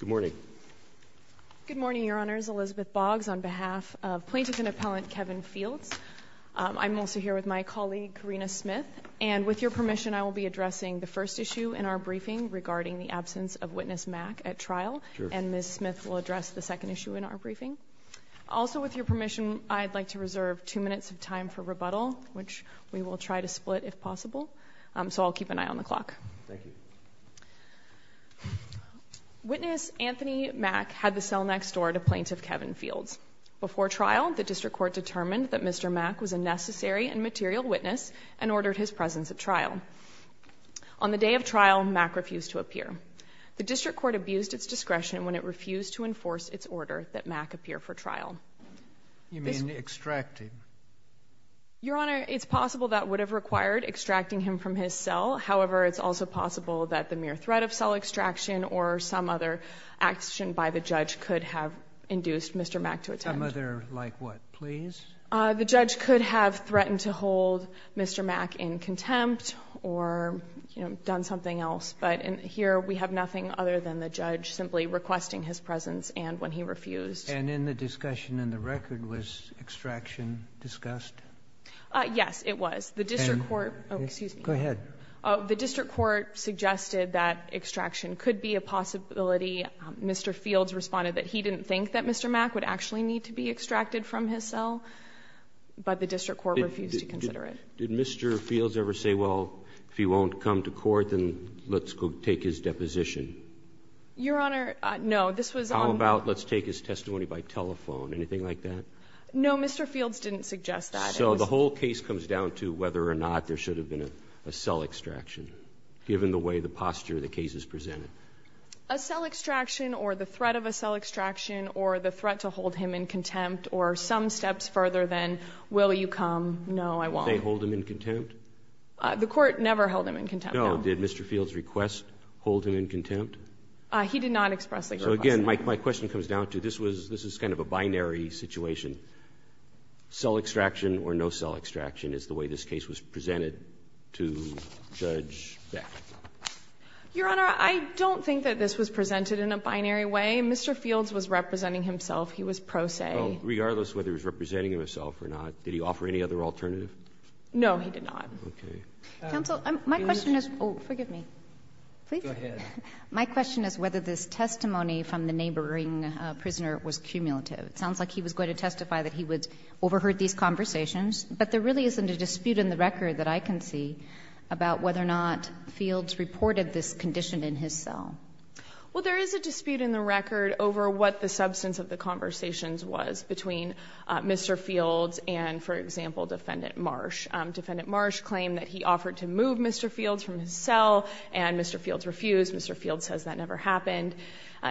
Good morning. Good morning, Your Honors. Elizabeth Boggs on behalf of Plaintiff and Appellant Kevin Fields. I'm also here with my colleague, Karina Smith, and with your permission, I will be addressing the first issue in our briefing regarding the absence of Witness Mack at trial, and Ms. Smith will address the second issue in our briefing. Also, with your permission, I'd like to reserve two minutes of time for rebuttal, which we will try to split if possible, so I'll keep an eye on the clock. Thank you. Witness Anthony Mack had the cell next door to Plaintiff Kevin Fields. Before trial, the District Court determined that Mr. Mack was a necessary and material witness and ordered his presence at trial. On the day of trial, Mack refused to appear. The District Court abused its discretion when it refused to enforce its order that Mack appear for trial. You mean extract him? Your extracting him from his cell. However, it's also possible that the mere threat of cell extraction or some other action by the judge could have induced Mr. Mack to attend. Some other, like what? Please? The judge could have threatened to hold Mr. Mack in contempt or, you know, done something else, but here we have nothing other than the judge simply requesting his presence and when he refused. And in the discussion in the record, was extraction discussed? Yes, it was. The District Court, excuse me. Go ahead. The District Court suggested that extraction could be a possibility. Mr. Fields responded that he didn't think that Mr. Mack would actually need to be extracted from his cell, but the District Court refused to consider it. Did Mr. Fields ever say, well, if he won't come to court, then let's go take his deposition? Your Honor, no, this was on. How about let's take his testimony by telephone, anything like that? No, Mr. Fields didn't suggest that. So the whole case comes down to whether or not there should have been a cell extraction, given the way the posture of the case is presented. A cell extraction or the threat of a cell extraction or the threat to hold him in contempt or some steps further than, will you come? No, I won't. Did they hold him in contempt? The Court never held him in contempt. No. Did Mr. Fields request hold him in contempt? He did not expressly request that. So again, my question comes down to, this is kind of a binary situation. Cell extraction or no cell extraction is the way this case was presented to Judge Beck. Your Honor, I don't think that this was presented in a binary way. Mr. Fields was representing himself. He was pro se. Well, regardless whether he was representing himself or not, did he offer any other alternative? No, he did not. Okay. Counsel, my question is, oh, forgive me. Please. Go ahead. My question is whether this testimony from the neighboring prisoner was cumulative. It sounds like he was going to testify that he would overheard these conversations, but there really isn't a dispute in the record that I can see about whether or not Fields reported this condition in his cell. Well, there is a dispute in the record over what the substance of the conversations was between Mr. Fields and, for example, Defendant Marsh. Defendant Marsh claimed that he offered to move Mr. Fields from his cell, and Mr. Fields refused. Mr. Fields says that never happened.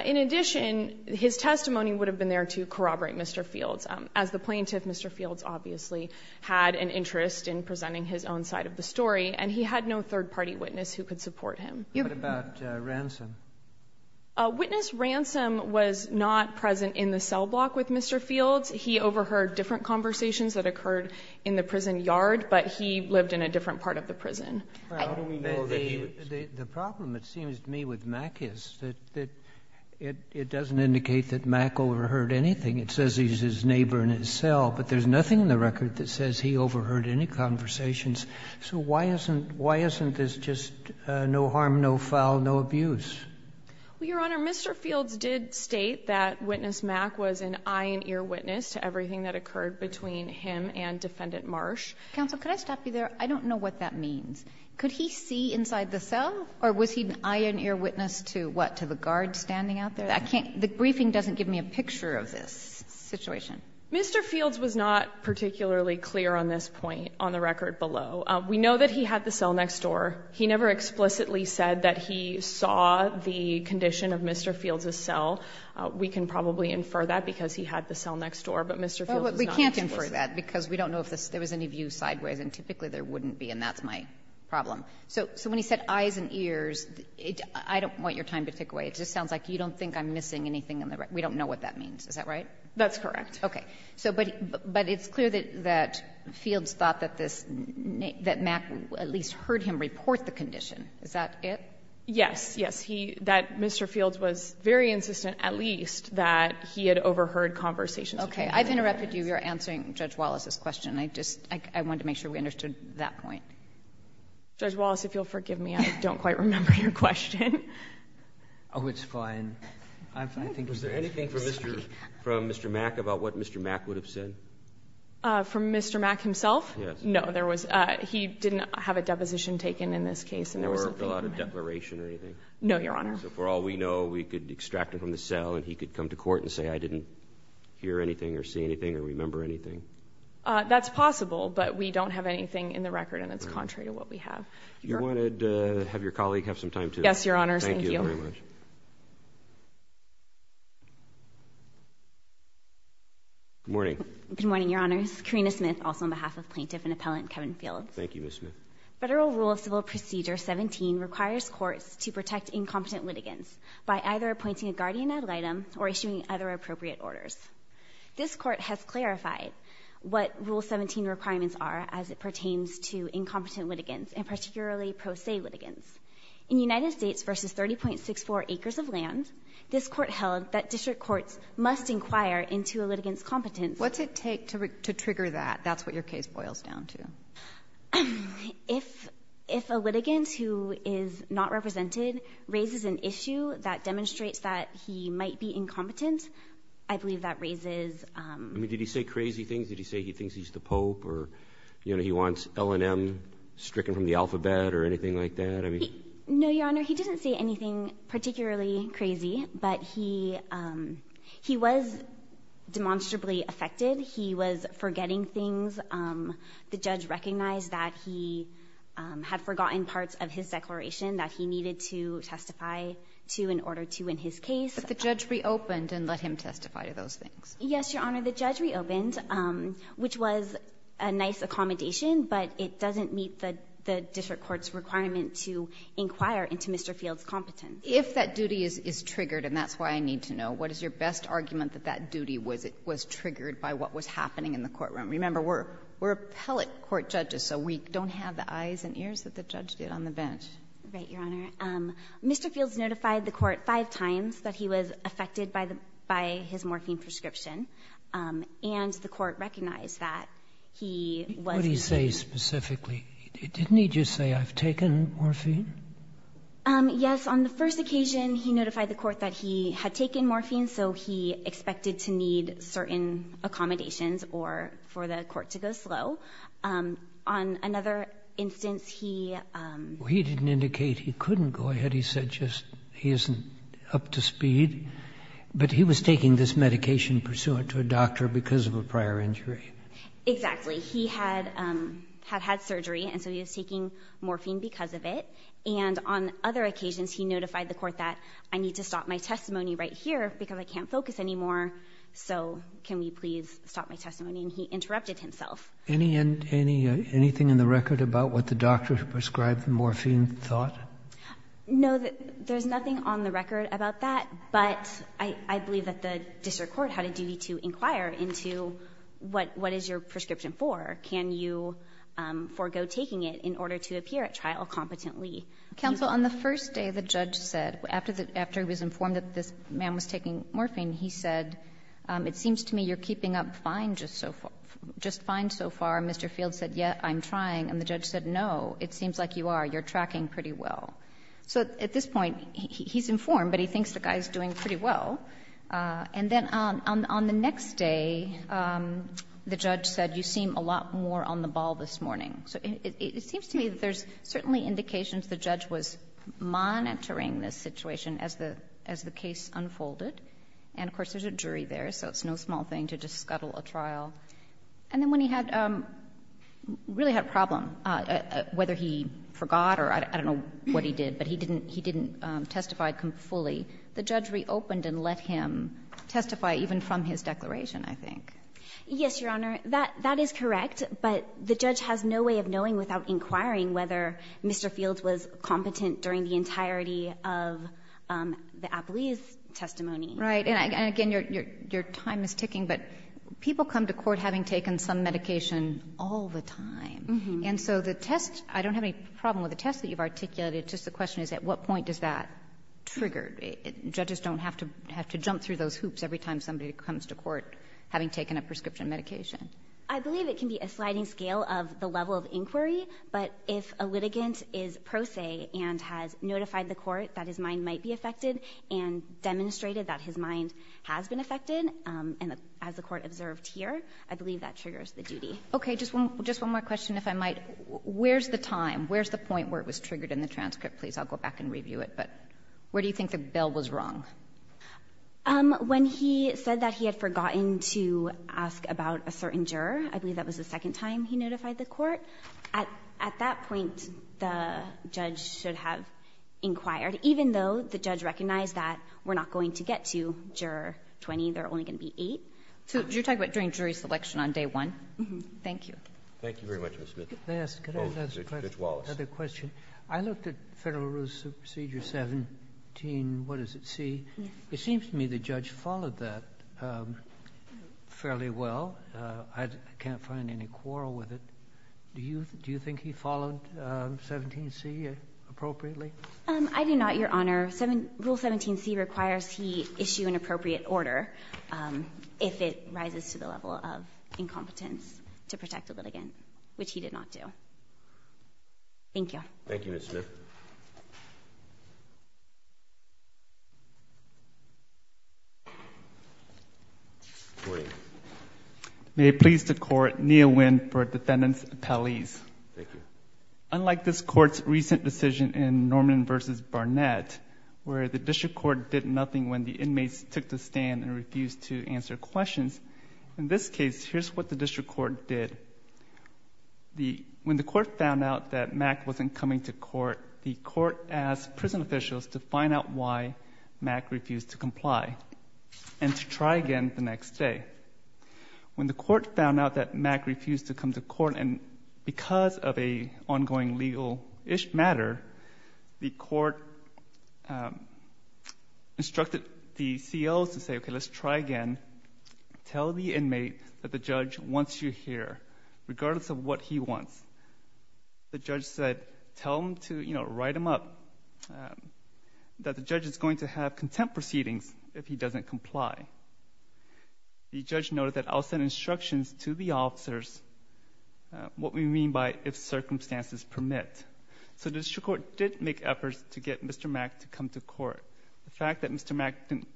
In addition, his testimony would have been there to corroborate Mr. Fields. As the plaintiff, Mr. Fields obviously had an interest in presenting his own side of the story, and he had no third-party witness who could support him. What about Ransom? Witness Ransom was not present in the cell block with Mr. Fields. He overheard different conversations that occurred in the prison yard, but he lived in a different part of the prison. The problem, it seems to me, with Mack is that it doesn't indicate that Mack overheard anything. It says he's his neighbor in his cell, but there's nothing in the record that says he overheard any conversations. So why isn't this just no harm, no foul, no abuse? Well, Your Honor, Mr. Fields did state that Witness Mack was an eye and ear witness to everything that occurred between him and Defendant Marsh. Counsel, could I stop you there? I don't know what that means. Could he see inside the cell, or was he an eye and ear witness to what, to the guards standing out there? I can't – the briefing doesn't give me a picture of this situation. Mr. Fields was not particularly clear on this point on the record below. We know that he had the cell next door. He never explicitly said that he saw the condition of Mr. Fields' cell. We can probably infer that because he had the cell next door, but Mr. Fields was not actually there. Kagan, I'm sorry to interrupt you on that, because we don't know if there was any view sideways, and typically there wouldn't be, and that's my problem. So when he said eyes and ears, I don't want your time to tick away. It just sounds like you don't think I'm missing anything on the record. We don't know what that means. Is that right? That's correct. Okay. So but it's clear that Fields thought that this – that Mack at least heard him report the condition. Is that it? Yes. Yes. He – that Mr. Fields was very insistent, at least, that he had overheard conversations between them. Okay. I've interrupted you. You're answering Judge Wallace's question. I just – I wanted to make sure we understood that point. Judge Wallace, if you'll forgive me, I don't quite remember your question. Oh, it's fine. I think it's fine. Was there anything from Mr. – from Mr. Mack about what Mr. Mack would have said? From Mr. Mack himself? Yes. No. There was – he didn't have a deposition taken in this case, and there was nothing from him. There was no declaration or anything? No, Your Honor. So for all we know, we could extract it from the cell, and he could come to court and say, I didn't hear anything or see anything or remember anything? That's possible, but we don't have anything in the record, and it's contrary to what we have. You wanted to have your colleague have some time, too? Yes, Your Honor. Thank you. Thank you very much. Good morning. Good morning, Your Honors. Carina Smith, also on behalf of Plaintiff and Appellant Kevin Fields. Thank you, Ms. Smith. Federal Rule of Civil Procedure 17 requires courts to protect incompetent litigants by either appointing a guardian ad litem or issuing other appropriate orders. This Court has clarified what Rule 17 requirements are as it pertains to incompetent litigants, and particularly pro se litigants. In United States v. 30.64 acres of land, this Court held that district courts must inquire into a litigant's competence. What's it take to trigger that? That's what your case boils down to. If a litigant who is not represented raises an issue that demonstrates that he might be incompetent, I believe that raises... I mean, did he say crazy things? Did he say he thinks he's the Pope or he wants L&M stricken from the alphabet or anything like that? I mean... No, Your Honor. He didn't say anything particularly crazy, but he was demonstrably affected. He was forgetting things. The judge recognized that he had forgotten parts of his declaration that he needed to testify to in order to win his case. But the judge reopened and let him testify to those things? Yes, Your Honor. The judge reopened, which was a nice accommodation, but it doesn't meet the district court's requirement to inquire into Mr. Field's competence. If that duty is triggered, and that's why I need to know, what is your best argument that that duty was triggered by what was happening in the courtroom? Remember, we're appellate court judges, so we don't have the eyes and ears that the judge did on the bench. Right, Your Honor. Mr. Field's notified the court five times that he was affected by his morphine prescription, and the court recognized that he was... What did he say specifically? Didn't he just say, I've taken morphine? Yes, on the first occasion, he notified the court that he had taken morphine, so he wasn't expected to need certain accommodations or for the court to go slow. On another instance, he... He didn't indicate he couldn't go ahead. He said just he isn't up to speed. But he was taking this medication pursuant to a doctor because of a prior injury. Exactly. He had had surgery, and so he was taking morphine because of it. And on other occasions, he notified the court that I need to stop my testimony right here because I can't focus anymore, so can we please stop my testimony? And he interrupted himself. Anything in the record about what the doctor prescribed morphine thought? No, there's nothing on the record about that. But I believe that the district court had a duty to inquire into what is your prescription for? Can you forego taking it in order to appear at trial competently? Counsel, on the first day, the judge said, after he was informed that this man was taking morphine, he said, it seems to me you're keeping up fine just so far. Just fine so far. Mr. Field said, yes, I'm trying. And the judge said, no, it seems like you are. You're tracking pretty well. So at this point, he's informed, but he thinks the guy is doing pretty well. And then on the next day, the judge said you seem a lot more on the ball this morning. So it seems to me there's certainly indications the judge was monitoring this situation as the case unfolded. And, of course, there's a jury there, so it's no small thing to just scuttle a trial. And then when he really had a problem, whether he forgot or I don't know what he did, but he didn't testify fully, the judge reopened and let him testify even from his declaration, I think. Yes, Your Honor. That is correct, but the judge has no way of knowing without inquiring whether Mr. Field was competent during the entirety of the Apollese testimony. Right. And, again, your time is ticking, but people come to court having taken some medication all the time. And so the test — I don't have any problem with the test that you've articulated. It's just the question is at what point does that trigger? Judges don't have to jump through those hoops every time somebody comes to court having taken a prescription medication. I believe it can be a sliding scale of the level of inquiry. But if a litigant is pro se and has notified the court that his mind might be affected and demonstrated that his mind has been affected, as the court observed here, I believe that triggers the duty. Okay. Just one more question, if I might. Where's the time? Where's the point where it was triggered in the transcript? Please, I'll go back and review it. But where do you think the bill was wrong? When he said that he had forgotten to ask about a certain juror, I believe that was the second time he notified the court. At that point, the judge should have inquired, even though the judge recognized that we're not going to get to Juror 20, there are only going to be eight. So you're talking about during jury selection on day one? Thank you. Thank you very much, Ms. Smith. Oh, Judge Wallace. Another question. I looked at Federal Rules of Procedure 17, what is it, C? Yes. It seems to me the judge followed that fairly well. I can't find any quarrel with it. Do you think he followed 17C appropriately? I do not, Your Honor. Rule 17C requires he issue an appropriate order if it rises to the level of incompetence to protect a litigant, which he did not do. Thank you. Thank you, Ms. Smith. Good morning. May it please the Court, Nia Nguyen for Defendant's Appellees. Thank you. Unlike this Court's recent decision in Norman v. Barnett, where the District Court did nothing when the inmates took the stand and refused to answer questions, in this case, here's what the District Court did. When the Court found out that Mack wasn't coming to court, the Court asked prison officials to find out why Mack refused to comply and to try again the next day. When the Court found out that Mack refused to come to court, and because of an ongoing legal-ish matter, the Court instructed the COs to say, okay, let's try again. Tell the inmate that the judge wants you here, regardless of what he wants. The judge said, tell him to, you know, write him up, that the judge is going to have contempt proceedings if he doesn't comply. The judge noted that I'll send instructions to the officers what we mean by if circumstances permit. So the District Court did make efforts to get Mr. Mack to come to court. The fact that Mr. Mack didn't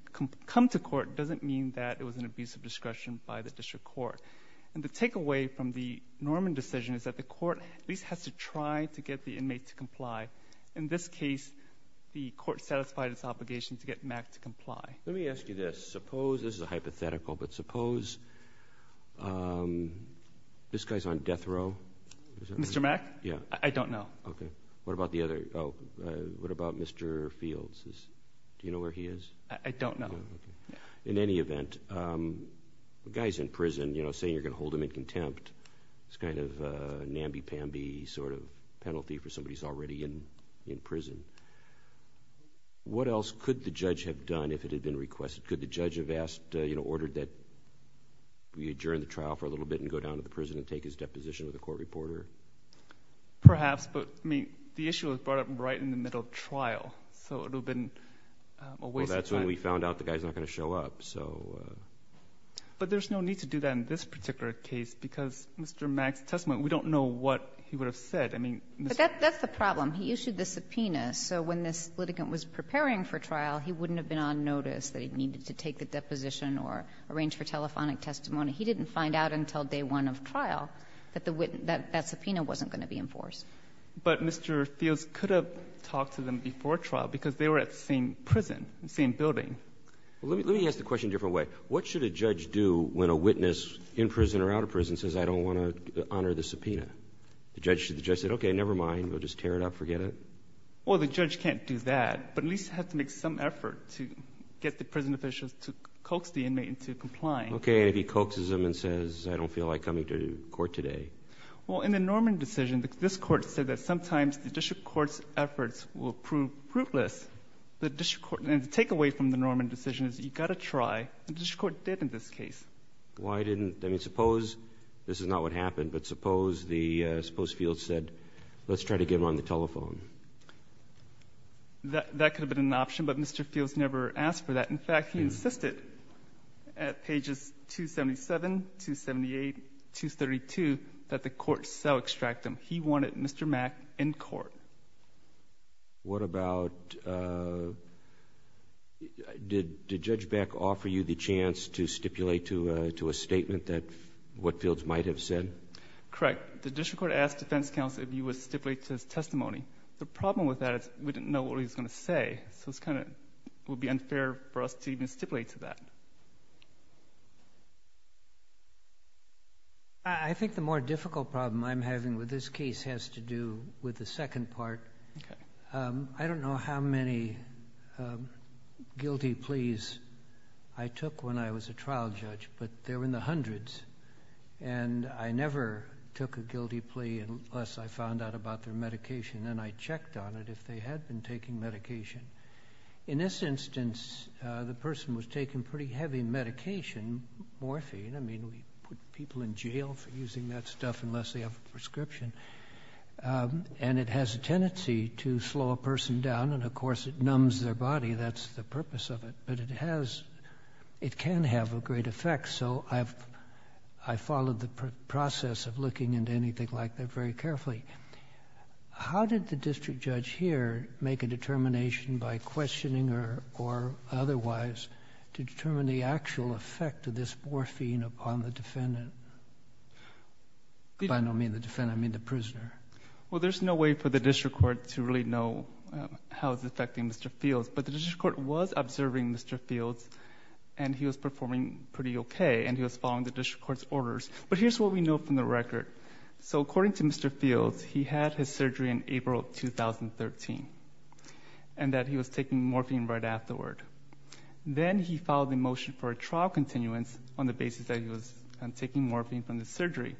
come to court doesn't mean that it was an abuse of discretion by the District Court. And the takeaway from the Norman decision is that the Court at least has to try to get the inmate to comply. In this case, the Court satisfied its obligation to get Mack to comply. Let me ask you this. Suppose, this is a hypothetical, but suppose this guy's on death row. Mr. Mack? Yeah. I don't know. Okay. What about the other, oh, what about Mr. Fields? Do you know where he is? I don't know. In any event, the guy's in prison. You know, saying you're going to hold him in contempt is kind of a namby-pamby sort of penalty for somebody who's already in prison. What else could the judge have done if it had been requested? Could the judge have asked, you know, ordered that we adjourn the trial for a little bit and go down to the prison and take his deposition with a court reporter? Perhaps, but, I mean, the issue was brought up right in the middle of trial. So it would have been a waste of time. Well, that's when we found out the guy's not going to show up, so. But there's no need to do that in this particular case, because Mr. Mack's testimony, we don't know what he would have said. I mean, Mr. But that's the problem. He issued the subpoena, so when this litigant was preparing for trial, he wouldn't have been on notice that he needed to take the deposition or arrange for telephonic testimony. He didn't find out until day one of trial that that subpoena wasn't going to be enforced. But Mr. Fields could have talked to them before trial, because they were at the same prison, same building. Let me ask the question a different way. What should a judge do when a witness in prison or out of prison says, I don't want to honor the subpoena? The judge should just say, okay, never mind. We'll just tear it up, forget it. Well, the judge can't do that, but at least have to make some effort to get the prison officials to coax the inmate into complying. Okay, and if he coaxes them and says, I don't feel like coming to court today. Well, in the Norman decision, this Court said that sometimes the district court's efforts will prove fruitless. The district court, and the takeaway from the Norman decision is you've got to try, and the district court did in this case. Why didn't, I mean, suppose this is not what happened, but suppose the, suppose Fields said, let's try to get him on the telephone. That could have been an option, but Mr. Fields never asked for that. In fact, he insisted at pages 277, 278, 232, that the court so extract him. He wanted Mr. Mack in court. What about, did Judge Beck offer you the chance to stipulate to a statement that what Fields might have said? Correct. The district court asked defense counsel if he would stipulate to his testimony. The problem with that is we didn't know what he was going to say. So it's kind of, it would be unfair for us to even stipulate to that. I think the more difficult problem I'm having with this case has to do with the second part. I don't know how many guilty pleas I took when I was a trial judge, but they were in the hundreds, and I never took a guilty plea unless I found out about their medication. I checked on it if they had been taking medication. In this instance, the person was taking pretty heavy medication, morphine. I mean, we put people in jail for using that stuff unless they have a prescription. It has a tendency to slow a person down, and of course it numbs their body. That's the purpose of it, but it can have a great effect. I followed the process of looking into anything like that very carefully. How did the district judge here make a determination by questioning or otherwise to determine the actual effect of this morphine upon the defendant? By the defendant, I mean the prisoner. Well, there's no way for the district court to really know how it's affecting Mr. Fields, but the district court was observing Mr. Fields, and he was performing pretty okay, and he was following the district court's orders. But here's what we know from the record. According to Mr. Fields, he had his surgery in April of 2013, and that he was taking morphine right afterward. Then he filed a motion for a trial continuance on the basis that he was taking morphine from the surgery.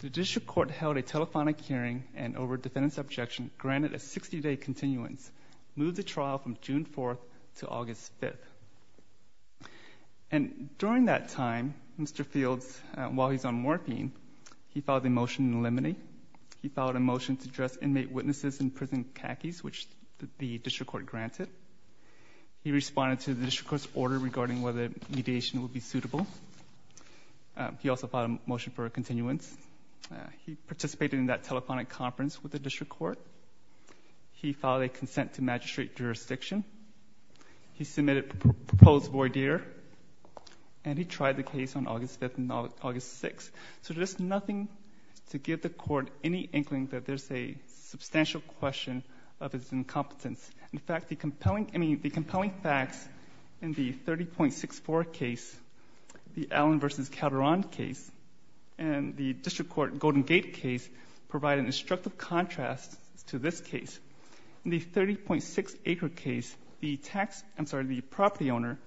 The district court held a telephonic hearing, and over a defendant's objection, granted a 60-day continuance, moved the trial from June 4th to August 5th. And during that time, Mr. Fields, while he's on morphine, he filed a motion in limine. He filed a motion to address inmate witnesses in prison cackies, which the district court granted. He responded to the district court's order regarding whether mediation would be suitable. He also filed a motion for a continuance. He participated in that telephonic conference with the district court. He filed a consent to magistrate jurisdiction. He submitted a proposed voir dire. And he tried the case on August 5th and August 6th. So there's nothing to give the court any inkling that there's a substantial question of his incompetence. In fact, the compelling facts in the 30.64 case, the Allen v. Calderon case, and the district court Golden Gate case provide an instructive contrast to this case. In the 30.6 Acre case, the property owner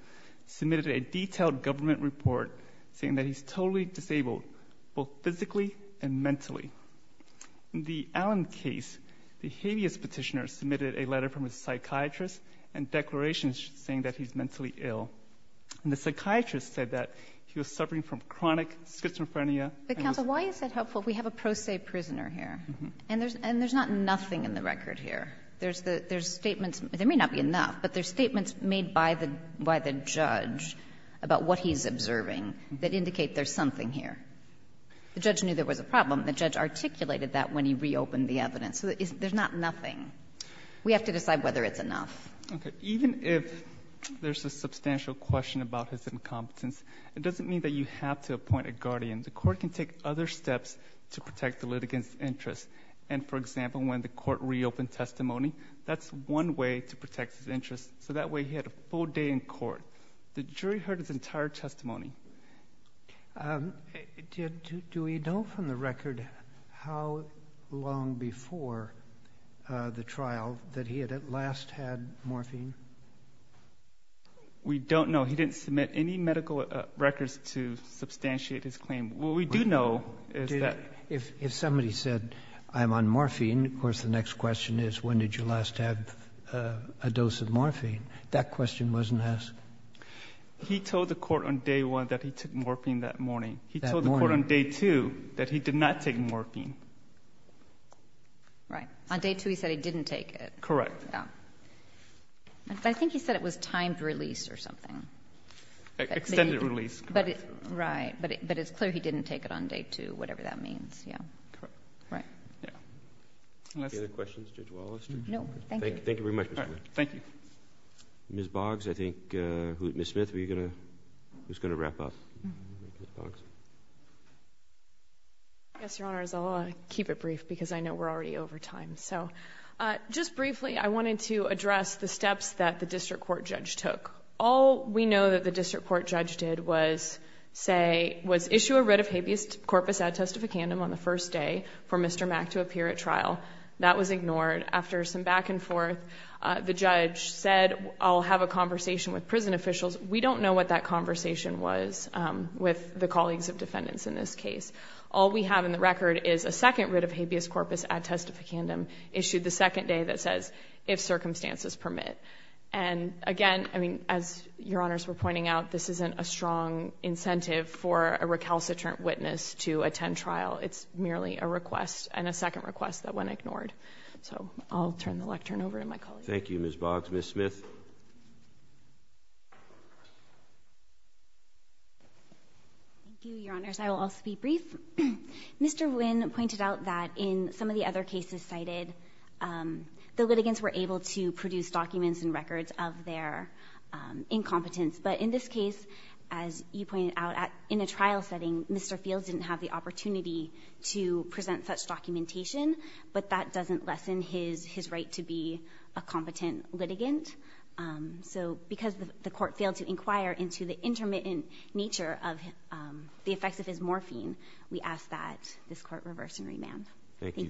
submitted a detailed government report saying that he's totally disabled, both physically and mentally. In the Allen case, the habeas petitioner submitted a letter from a psychiatrist and declarations saying that he's mentally ill. And the psychiatrist said that he was suffering from chronic schizophrenia. But counsel, why is that helpful if we have a pro se prisoner here? And there's not nothing in the record here. There's statements. There may not be enough. But there's statements made by the judge about what he's observing that indicate there's something here. The judge knew there was a problem. The judge articulated that when he reopened the evidence. So there's not nothing. We have to decide whether it's enough. Okay. Even if there's a substantial question about his incompetence, it doesn't mean that you have to appoint a guardian. The court can take other steps to protect the litigant's interest. And for example, when the court reopened testimony, that's one way to protect his interest. So that way he had a full day in court. The jury heard his entire testimony. Do we know from the record how long before the trial that he had at last had morphine? We don't know. He didn't submit any medical records to substantiate his claim. What we do know is that. If somebody said, I'm on morphine, of course, the next question is, when did you last have a dose of morphine? That question wasn't asked. He told the court on day one that he took morphine that morning. He told the court on day two that he did not take morphine. Right. On day two, he said he didn't take it. Correct. I think he said it was timed release or something. Extended release. Right. But it's clear he didn't take it on day two, whatever that means. Yeah. Correct. Right. Any other questions, Judge Wallace? No, thank you. Thank you very much, Mr. Smith. Thank you. Ms. Boggs, I think. Ms. Smith, who's going to wrap up? Yes, Your Honor, I'll keep it brief because I know we're already over time. So just briefly, I wanted to address the steps that the district court judge took. All we know that the district court judge did was say, was issue a writ of habeas corpus ad testificandum on the first day for Mr. Mack to appear at trial. That was ignored. After some back and forth, the judge said, I'll have a conversation with prison officials. We don't know what that conversation was with the colleagues of defendants in this case. All we have in the record is a second writ of habeas corpus ad testificandum issued the second day that says, if circumstances permit. And again, I mean, as Your Honors were pointing out, this isn't a strong incentive for a recalcitrant witness to attend trial. It's merely a request and a second request that went ignored. So I'll turn the lectern over to my colleagues. Thank you, Ms. Boggs. Ms. Smith. Thank you, Your Honors. I will also be brief. Mr. Nguyen pointed out that in some of the other cases cited, the litigants were able to produce documents and records of their incompetence. But in this case, as you pointed out, in a trial setting, Mr. Fields didn't have the opportunity to present such documentation. But that doesn't lessen his right to be a competent litigant. So because the court failed to inquire into the intermittent nature of the effects of his morphine, we ask that this court reverse and remand. Thank you.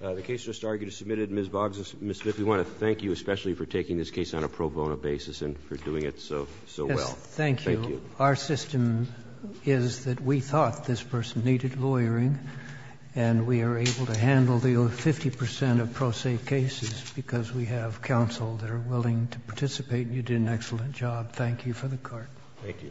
The case just argued is submitted. Ms. Boggs, Ms. Smith, we want to thank you especially for taking this case on a pro bono basis and for doing it so well. Yes, thank you. Our system is that we thought this person needed lawyering, and we are able to handle the 50% of pro se cases because we have counsel that are willing to participate. You did an excellent job. Thank you for the court. Thank you.